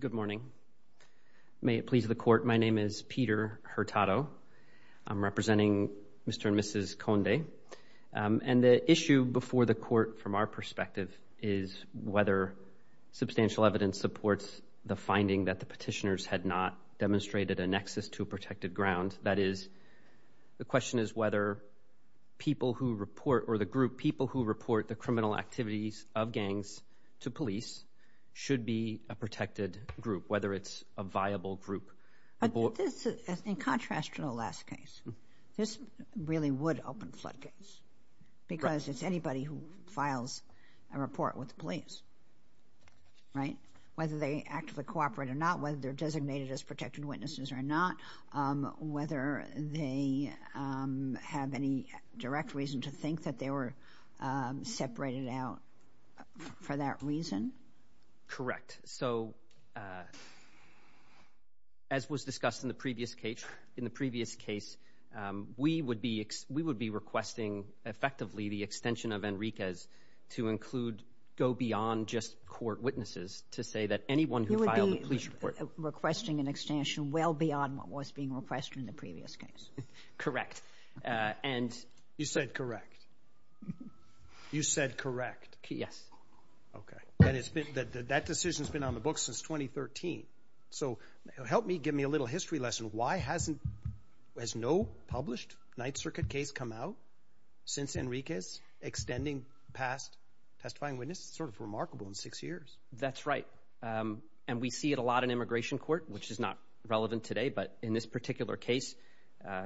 Good morning. May it please the court, my name is Peter Hurtado. I'm representing Mr. and Mrs. Conde. And the issue before the court from our perspective is whether substantial evidence supports the finding that the petitioners had not demonstrated a nexus to a protected ground. That is, the question is whether people who report, or the group, people who report the criminal activities of gangs to police should be a protected group, whether it's a viable group. But this, in contrast to the last case, this really would open floodgates because it's anybody who files a report with the police, right? Whether they actively cooperate or not, whether they're designated as protected witnesses or not, whether they have any direct reason to think that they were separated out for that reason. Correct. So, as was discussed in the previous case, in the previous case, we would be requesting effectively the extension of Enriquez to include, go beyond just court witnesses to say that anyone who filed a police report. You would be requesting an extension well beyond what was being requested in the case. You said correct. You said correct. Yes. Okay. That decision's been on the books since 2013. So, help me, give me a little history lesson. Why hasn't, has no published Ninth Circuit case come out since Enriquez extending past testifying witnesses? Sort of remarkable in six years. That's right. And we see it a lot in immigration court, which is not relevant today, but in this particular case,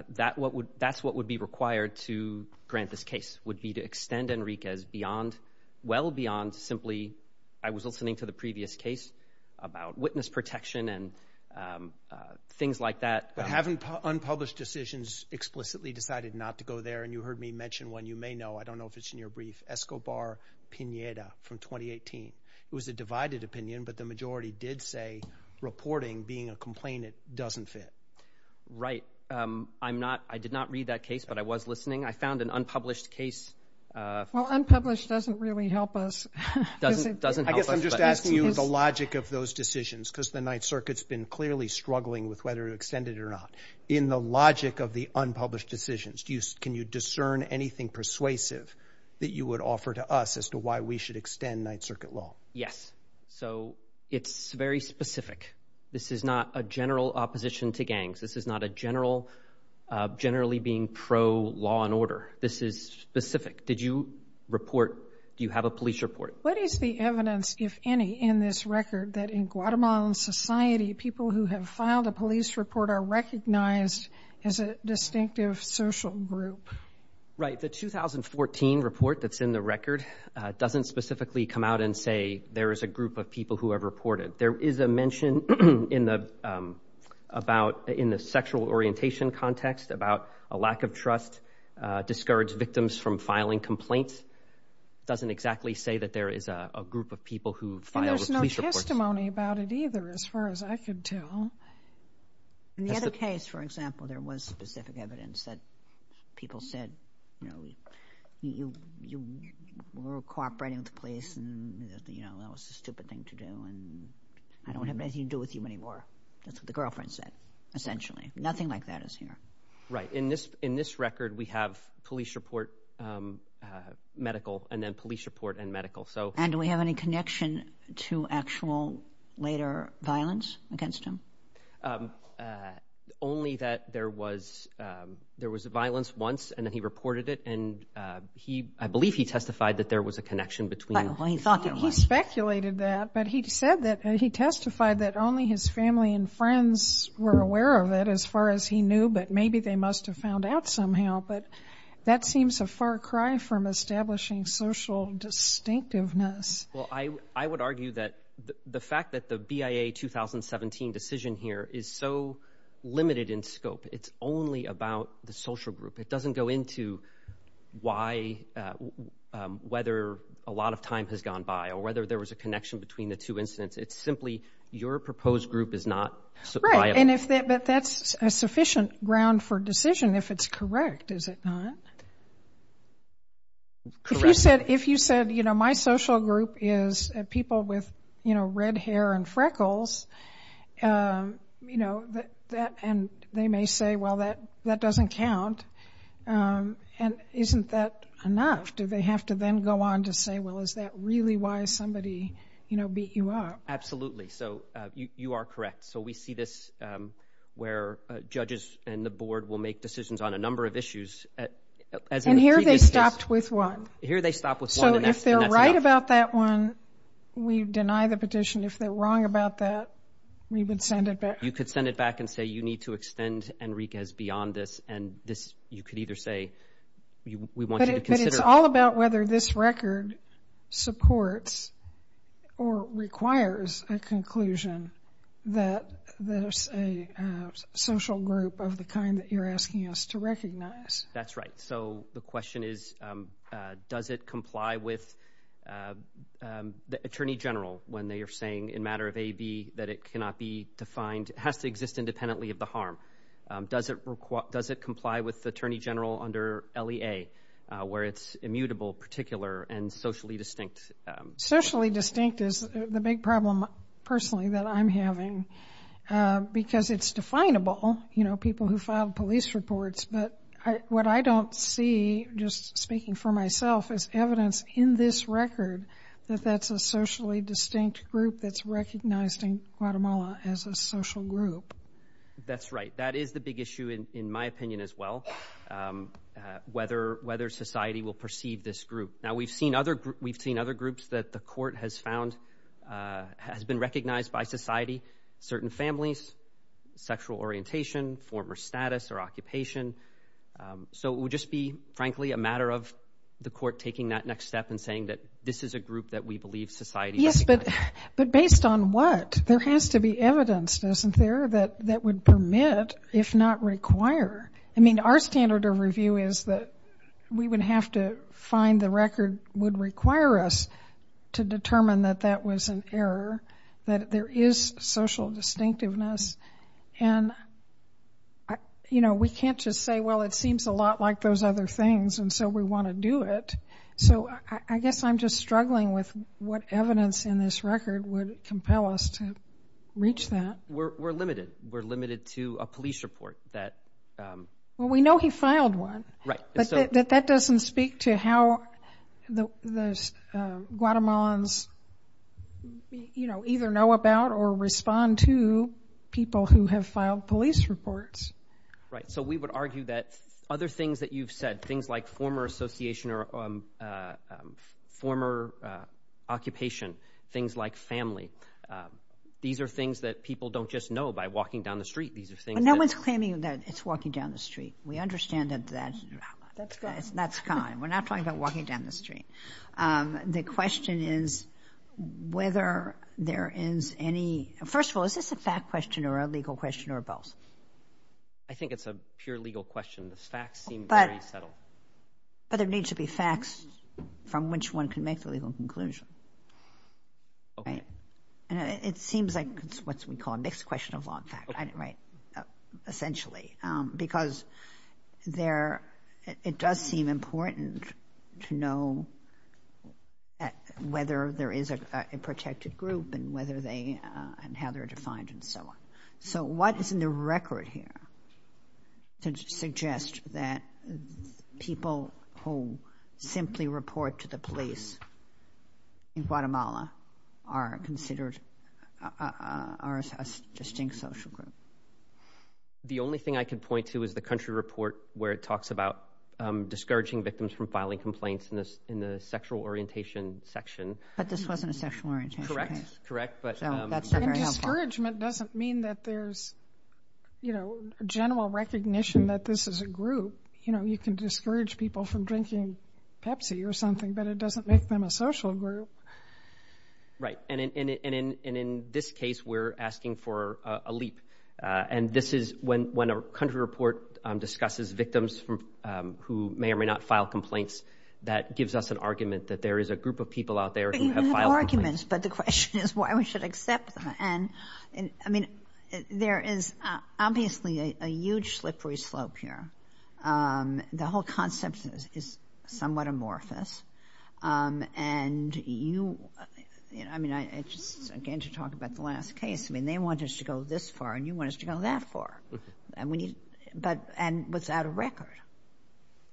that's what would be required to grant this case, would be to extend Enriquez beyond, well beyond simply, I was listening to the previous case about witness protection and things like that. But having unpublished decisions explicitly decided not to go there, and you heard me mention one, you may know, I don't know if it's in your brief, Escobar-Pineda from 2018. It was a divided opinion, but the majority did say reporting being a complainant doesn't fit. Right. I'm not, I did not read that case, but I was listening. I found an unpublished case. Well, unpublished doesn't really help us. Doesn't, doesn't help us. I guess I'm just asking you the logic of those decisions because the Ninth Circuit's been clearly struggling with whether to extend it or not. In the logic of the unpublished decisions, do you, can you discern anything persuasive that you would offer to us as to why we should extend Ninth Circuit law? Yes. So it's very specific. This is not a general opposition to gangs. This is not a general, generally being pro-law and order. This is specific. Did you report, do you have a police report? What is the evidence, if any, in this record that in Guatemalan society, people who have filed a police report are recognized as a distinctive social group? Right. The 2014 report that's in the record doesn't specifically come out and say there is a group of people who have reported. There is a mention in the, about, in the sexual orientation context about a lack of trust, discouraged victims from filing complaints. Doesn't exactly say that there is a group of people who filed a police report. And there's no testimony about it either, as far as I could tell. In the other case, for example, there was specific evidence that people said, you know, you were cooperating with the police and, you know, that was a stupid thing to do and I don't have anything to do with you anymore. That's what the girlfriend said, essentially. Nothing like that is here. Right. In this, in this record we have police report, medical, and then police report and medical. So. And do we have any connection to actual later violence against him? Only that there was, there was violence once and then he reported it and he, I believe he testified that there was a connection between. He speculated that, but he said that he testified that only his family and friends were aware of it as far as he knew, but maybe they must have found out somehow. But that seems a far cry from establishing social distinctiveness. Well, I would argue that the fact that the BIA 2017 decision here is so limited in scope, it's only about the social group. It doesn't go into why, whether a lot of time has gone by or whether there was a connection between the two incidents. It's simply your proposed group is not. Right. And if that, but that's a sufficient ground for decision if it's correct, is it not? Correct. If you said, if you said, you know, my social group is people with, you know, red hair and freckles, you know, that, that, and they may say, well, that that doesn't count. And isn't that enough? Do they have to then go on to say, well, is that really why somebody, you know, beat you up? Absolutely. So you are correct. So we see this where judges and the board will make decisions on a number of issues. And here they stopped with one. Here they stop with one. So if they're right about that one, we deny the petition. If they're wrong about that, we would send it back. You could send it back and say, you need to extend Enriquez beyond this. And this, you could either say, we want you to consider. But it's all about whether this record supports or requires a conclusion that there's a social group of the kind that you're asking us to recognize. That's right. So the question is, does it comply with the attorney general when they are saying in matter of AB that it cannot be defined, has to exist independently of the harm? Does it require, does it comply with the attorney general under LEA where it's immutable, particular and socially distinct? Socially distinct is the big problem personally that I'm having because it's definable, you know, people who filed police reports. But what I don't see, just speaking for myself, is evidence in this record that that's a socially distinct group that's recognized in Guatemala as a social group. That's right. That is the big issue in my opinion as well, whether society will perceive this group. Now we've seen other groups that the court has found, has been recognized by society, certain families, sexual orientation, former status or occupation. So it would just be frankly a matter of the court taking that next step and saying that this is a group that we believe society recognizes. Yes, but based on what? There has to be evidence, doesn't there, that would permit, if not require. I mean, our standard of review is that we would have to find the record would require us to determine that that was an error, that there is social distinctiveness. And, you know, we can't just say, well, it seems a lot like those other things and so we want to do it. So I guess I'm just struggling with what evidence in this record would compel us to reach that. We're limited. We're limited to a police report that... Well, we know he filed one. Right. But that doesn't speak to how the Guatemalans, you know, either know about or respond to people who have filed police reports. Right. So we would argue that other things that you've said, things like former association or former occupation, things like family, these are things that people don't just know by walking down the street. These are things that... No one's claiming that it's walking down the street. We understand that that's kind. We're not talking about walking down the street. The question is whether there is any... First of all, is this a fact question or a legal question or both? I think it's a pure legal question. The facts seem very subtle. But there needs to be facts from which one can make the legal conclusion. Right. And it seems like it's what we call a mixed question of law and fact. Right. Essentially. Because it does seem important to know whether there is a protected group and how they're defined and so on. So what is in the record here to suggest that people who simply report to the police in Guatemala are considered a distinct social group? The only thing I can point to is the country report where it talks about discouraging victims from filing complaints in the sexual orientation section. But this wasn't a sexual orientation case. Correct. Correct. But... And discouragement doesn't mean that there's general recognition that this is a group. You can discourage people from drinking Pepsi or something, but it doesn't make them a social group. Right. And in this case, we're asking for a leap. And this is when a country report discusses victims who may or may not file complaints, that gives us an argument that there is a group of people out there who have filed complaints. But you have arguments. But the question is why we should accept them. And I mean, there is obviously a huge slippery slope here. The whole concept is somewhat amorphous. And you... I mean, I just... Again, to talk about the last case, I mean, they want us to go this far and you want us to go that far. And we need... But... And without a record.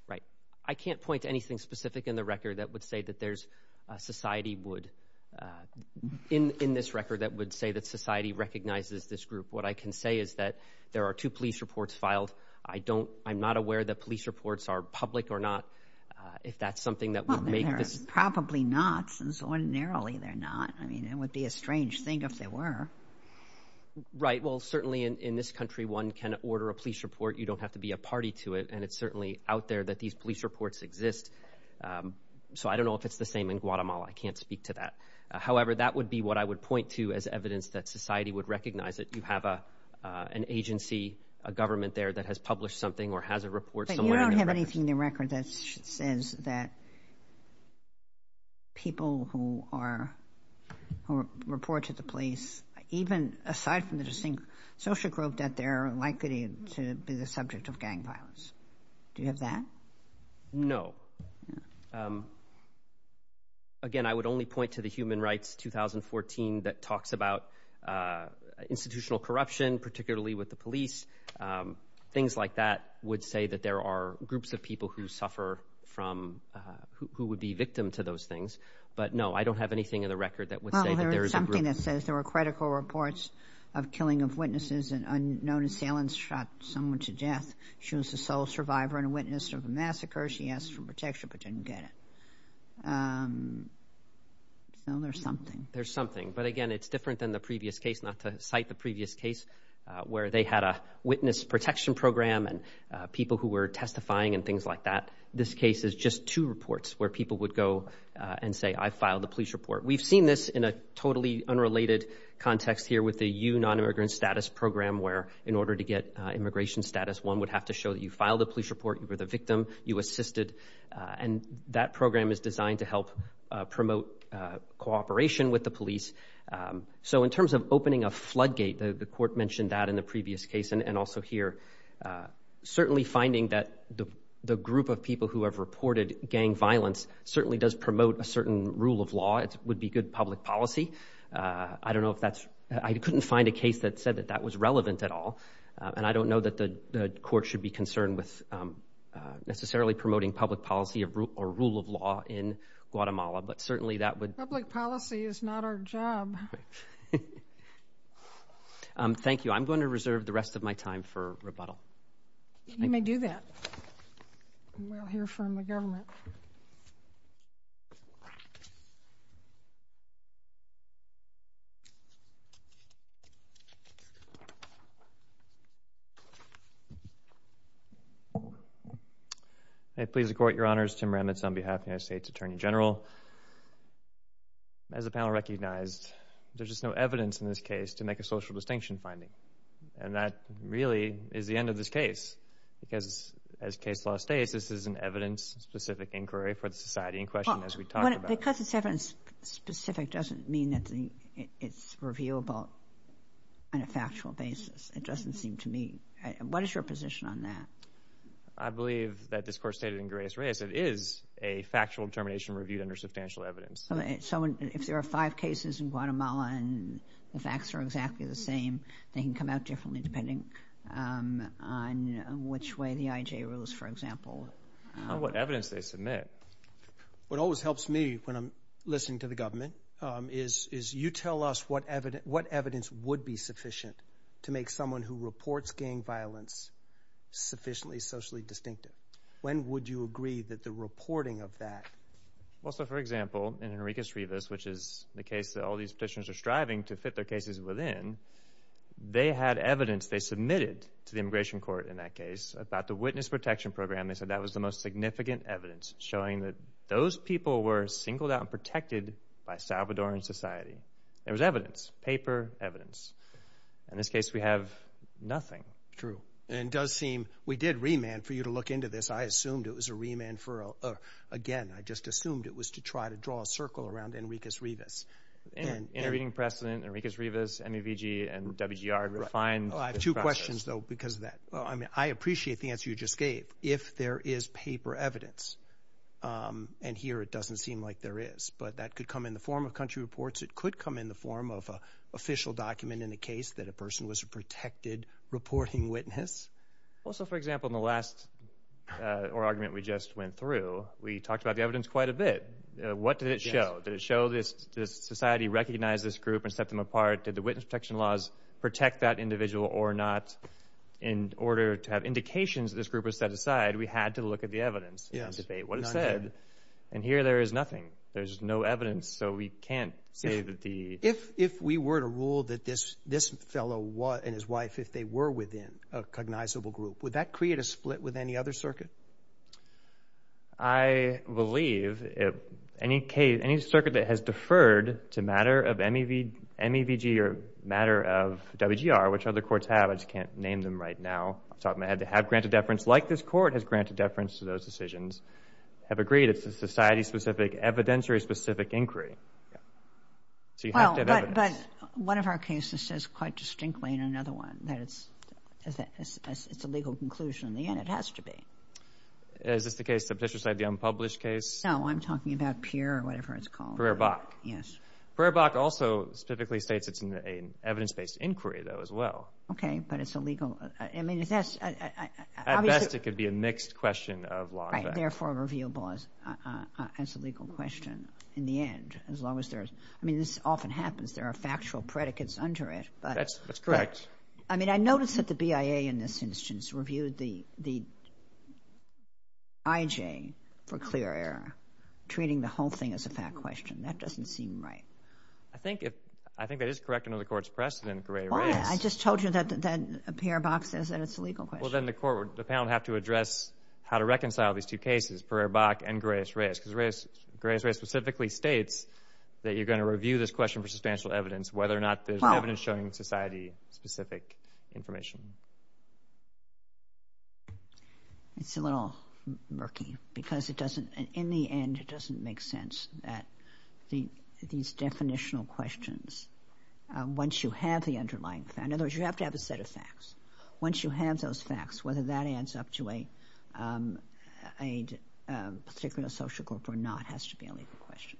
Right. I can't point to anything specific in the record that would say that there's a society would... In this record that would say that society recognizes this group. What I can say is that there are two police reports filed. I don't... I'm not aware that police reports are public or not. If that's something that would make this... Well, they're probably not. Since ordinarily they're not. I mean, it would be a strange thing if they were. Right. Well, certainly in this country, one can order a police report. You don't have to be a party to it. And it's certainly out there that these police reports exist. So I don't know if it's the same in Guatemala. I can't speak to that. However, that would be what I would point to as evidence that society would recognize it. You have an agency, a government there that has published something or has a report. But you don't have anything in the record that says that people who are... Who report to the police, even aside from the distinct social group that they're likely to be the subject of gang violence. Do you have that? No. Again, I would only point to the Human Rights 2014 that talks about institutional corruption, particularly with the police. Things like that would say that there are groups of people who suffer from... Who would be victim to those things. But no, I don't have anything in the record that would say that there is a group... Well, there is something that says there were critical reports of killing of witnesses and unknown assailants shot someone to death. She was the sole survivor and a witness of a massacre. She asked for protection but didn't get it. So there's something. There's something. But again, it's different than the previous case, not to cite the previous case where they had a witness protection program and people who were testifying and things like that. This case is just two reports where people would go and say, I filed a police report. We've seen this in a totally unrelated context here with the U Non-Immigrant Status Program where in order to get immigration status one would have to show that you filed a police report, you were the victim, you were a victim. That program is designed to help promote cooperation with the police. So in terms of opening a floodgate, the court mentioned that in the previous case and also here. Certainly finding that the group of people who have reported gang violence certainly does promote a certain rule of law. It would be good public policy. I don't know if that's... I couldn't find a case that said that that was relevant at all. And I don't know that the court should be concerned with necessarily promoting public policy or rule of law in Guatemala, but certainly that would... Public policy is not our job. Thank you. I'm going to reserve the rest of my time for rebuttal. You may do that. We'll hear from the government. May it please the Court, Your Honors. Tim Remitz on behalf of the United States Attorney General. As the panel recognized, there's just no evidence in this case to make a social distinction finding. And that really is the end of this case. Because as case law states, this is an evidence-specific inquiry for the society in question as we talked about. Because it's evidence-specific doesn't mean that it's reviewable on a factual basis. It is a factual determination reviewed under substantial evidence. So if there are five cases in Guatemala and the facts are exactly the same, they can come out differently depending on which way the IJ rules, for example. On what evidence they submit. What always helps me when I'm listening to the government is you tell us what evidence would be sufficient to make someone who reports gang violence sufficiently socially distinctive. When would you agree that the reporting of that? Well, so for example, in Enrique's Rivas, which is the case that all these petitions are striving to fit their cases within, they had evidence they submitted to the immigration court in that case about the witness protection program. They said that was the most significant evidence showing that those people were singled out and protected by Salvadoran society. There was evidence, paper evidence. In this case, we have nothing. True. And it does seem, we did remand for you to look into this. I assumed it was a remand for, again, I just assumed it was to try to draw a circle around Enrique's Rivas. Intervening precedent, Enrique's Rivas, MEVG, and WGR refined this process. I have two questions though because of that. I mean, I appreciate the answer you just gave. If there is paper evidence, and here it doesn't seem like there is, but that could come in the form of country reports. It could come in the form of an official document in the case that a person was a protected reporting witness. Also, for example, in the last argument we just went through, we talked about the evidence quite a bit. What did it show? Did it show that society recognized this group and set them apart? Did the witness protection laws protect that individual or not? In order to have indications that this group was set aside, we had to look at the evidence and here there is nothing. There is no evidence, so we can't say that the If we were to rule that this fellow and his wife, if they were within a cognizable group, would that create a split with any other circuit? I believe if any case, any circuit that has deferred to matter of MEVG or matter of WGR, which other courts have, I just can't name them right now. I'm talking about had to have granted deference like this court has granted deference to those decisions, have agreed it's a society-specific evidence or a specific inquiry. So you have to have evidence. But one of our cases says quite distinctly in another one that it's a legal conclusion. In the end, it has to be. Is this the case, the petitioner side, the unpublished case? No, I'm talking about Peer or whatever it's called. Pereerbach. Yes. Pereerbach also specifically states it's an evidence-based inquiry, though, as well. Okay, but it's a legal... I mean, is this... At best, it could be a mixed question of law and facts. And therefore, reviewable as a legal question in the end, as long as there's... I mean, this often happens. There are factual predicates under it, but... That's correct. I mean, I noticed that the BIA in this instance reviewed the IJ for clear error, treating the whole thing as a fact question. That doesn't seem right. I think that is correct under the Court's precedent, Gray-Riggs. Well, I just told you that Pereerbach says that it's a legal question. Well, then the panel would have to address how to reconcile these two cases, Pereerbach and Gray-Riggs, because Gray-Riggs specifically states that you're going to review this question for substantial evidence, whether or not there's evidence showing society-specific information. It's a little murky, because it doesn't... In the end, it doesn't make sense that these definitional questions, once you have the underlying facts... In other words, you have to have a set of facts. Once you have those facts, whether that adds up to a particular social group or not has to be a legal question.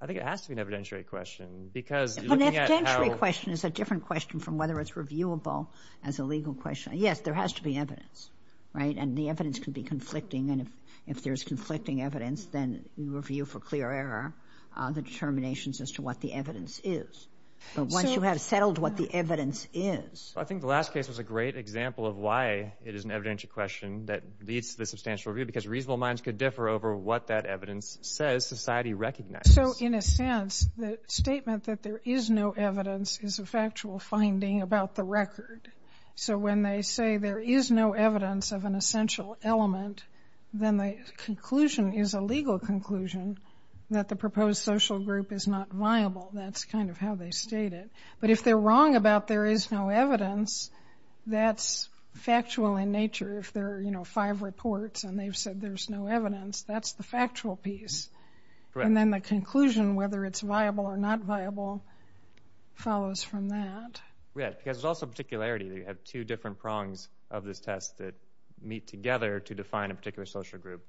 I think it has to be an evidentiary question, because looking at how... An evidentiary question is a different question from whether it's reviewable as a legal question. Yes, there has to be evidence, right? And the evidence can be conflicting, and if there's conflicting evidence, then you review for clear error the determinations as to what the evidence is. But once you have settled what the evidence is... I think the last case was a great example of why it is an evidentiary question that leads to the substantial review, because reasonable minds could differ over what that evidence says society recognizes. So in a sense, the statement that there is no evidence is a factual finding about the record. So when they say there is no evidence of an essential element, then the conclusion is a legal conclusion that the proposed social group is not viable. That's kind of how they state it. But if they're wrong about there is no evidence, that's factual in nature. If there are five reports and they've said there's no evidence, that's the factual piece. And then the conclusion, whether it's viable or not viable, follows from that. Yes, because there's also particularity. You have two different prongs of this test that meet together to define a particular social group,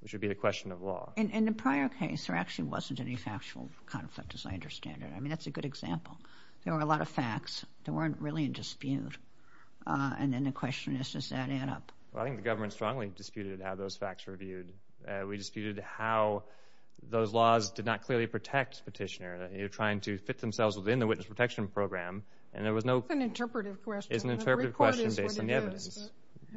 which would be the question of law. In the prior case, there actually wasn't any factual conflict, as I understand it. I mean, it's a good example. There were a lot of facts. There weren't really a dispute. And then the question is, does that add up? Well, I think the government strongly disputed how those facts were viewed. We disputed how those laws did not clearly protect petitioner. They were trying to fit themselves within the witness protection program, and there was no— It's an interpretive question. It's an interpretive question based on the evidence. The report is what it is, is it?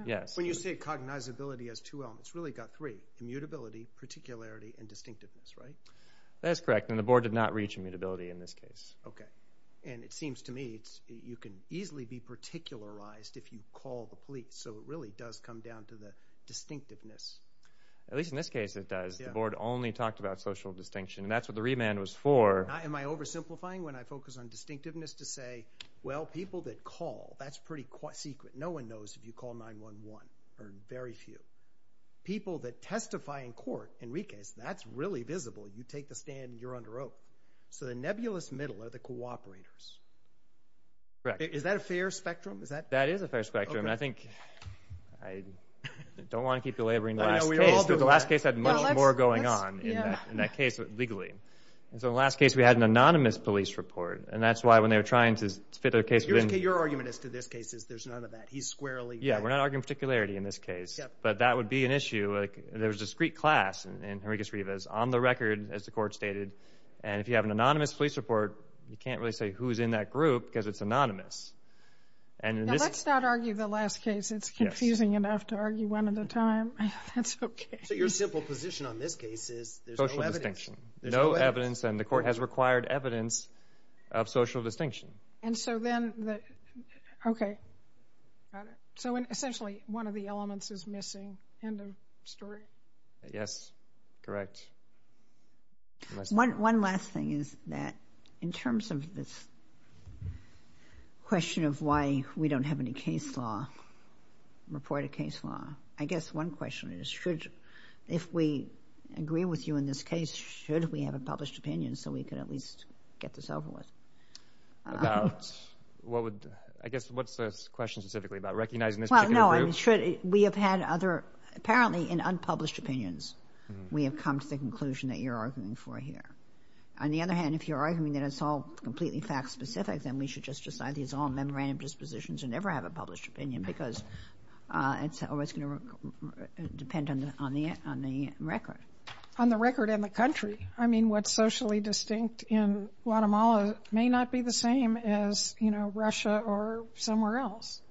Yes. When you say cognizability has two elements, it's really got three—immutability, particularity, and distinctiveness, right? That's correct, and the board did not reach immutability in this case. Okay. And it seems to me you can easily be particularized if you call the police, so it really does come down to the distinctiveness. At least in this case, it does. The board only talked about social distinction, and that's what the remand was for. Am I oversimplifying when I focus on distinctiveness to say, well, people that call, that's pretty secret. No one knows if you call 911, or very few. People that testify in court, in recase, that's really visible. You take the stand, and you're under oath. So the nebulous middle are the cooperators. Correct. Is that a fair spectrum? That is a fair spectrum, and I think—I don't want to keep delivering the last case, but the last case had much more going on in that case legally. And so in the last case, we had an anonymous police report, and that's why when they were trying to fit their case within— Your argument as to this case is there's none of that. He's squarely— Yeah, we're not arguing particularity in this case, but that would be an issue. There is discrete class in Henricus Rivas on the record, as the court stated, and if you have an anonymous police report, you can't really say who's in that group because it's anonymous. Now, let's not argue the last case. It's confusing enough to argue one at a time. That's okay. So your simple position on this case is there's no evidence. Social distinction. No evidence, and the court has required evidence of social distinction. Okay. Got it. So essentially, one of the elements is missing. End of story. Yes. Correct. One last thing is that in terms of this question of why we don't have any case law, reported case law, I guess one question is should—if we agree with you in this case, should we have a published opinion so we can at least get this over with? About what would—I guess what's the question specifically about? Recognizing this particular group? Well, no. I mean, should—we have had other—apparently in unpublished opinions, we have come to the conclusion that you're arguing for here. On the other hand, if you're arguing that it's all completely fact-specific, then we should just decide these all memorandum dispositions and never have a published opinion because it's always going to depend on the record. On the record and the country. I mean, what's socially distinct in Guatemala may not be the same as, you know, Russia or somewhere else.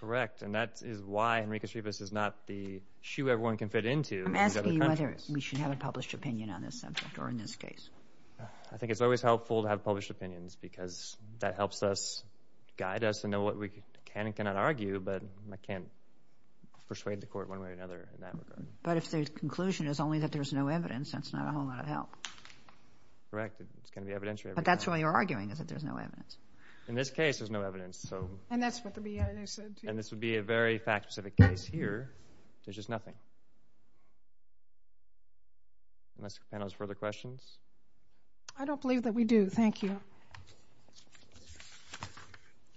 Correct. And that is why Henriquez-Rivas is not the shoe everyone can fit into. I'm asking you whether we should have a published opinion on this subject or in this case. I think it's always helpful to have published opinions because that helps us—guide us to know what we can and cannot argue, but I can't persuade the court one way or another in that regard. But if the conclusion is only that there's no evidence, that's not a whole lot of help. Correct. It's going to be evidentiary evidence. But that's why you're arguing is that there's no evidence. In this case, there's no evidence, so— And that's what the BIA said, too. And this would be a very fact-specific case here. There's just nothing. Unless the panel has further questions? I don't believe that we do. Thank you.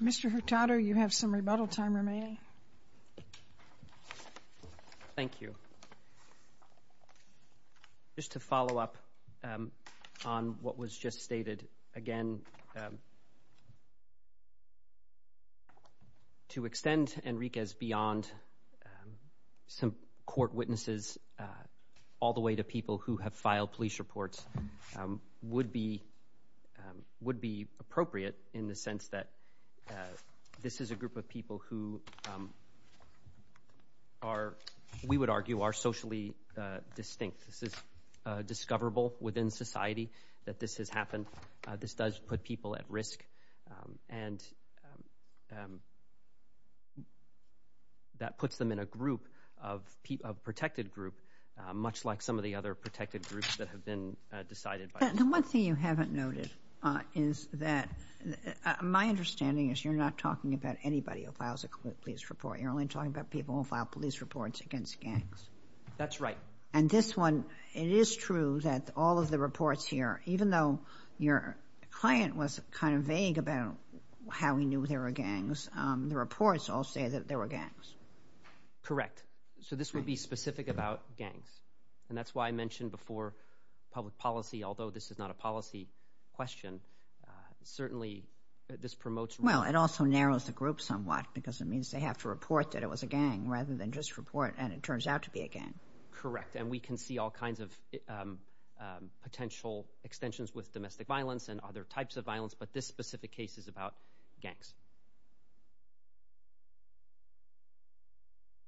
Mr. Hurtado, you have some rebuttal time remaining. Thank you. Just to follow up on what was just stated, again, to extend Enriquez beyond some court witnesses all the way to people who have filed police reports would be appropriate in the are, we would argue, are socially distinct. This is discoverable within society that this has happened. This does put people at risk. And that puts them in a group, a protected group, much like some of the other protected groups that have been decided by— The one thing you haven't noted is that—my understanding is you're not talking about anybody who files a police report. You're only talking about people who file police reports against gangs. That's right. And this one, it is true that all of the reports here, even though your client was kind of vague about how he knew there were gangs, the reports all say that there were gangs. Correct. So this would be specific about gangs. And that's why I mentioned before public policy, although this is not a policy question, certainly this promotes— Well, it also narrows the group somewhat because it means they have to report that it was a gang rather than just report and it turns out to be a gang. Correct. And we can see all kinds of potential extensions with domestic violence and other types of violence, but this specific case is about gangs.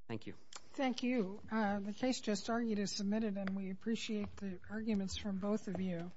Thank you. Thank you. The case just argued is submitted and we appreciate the arguments from both of you.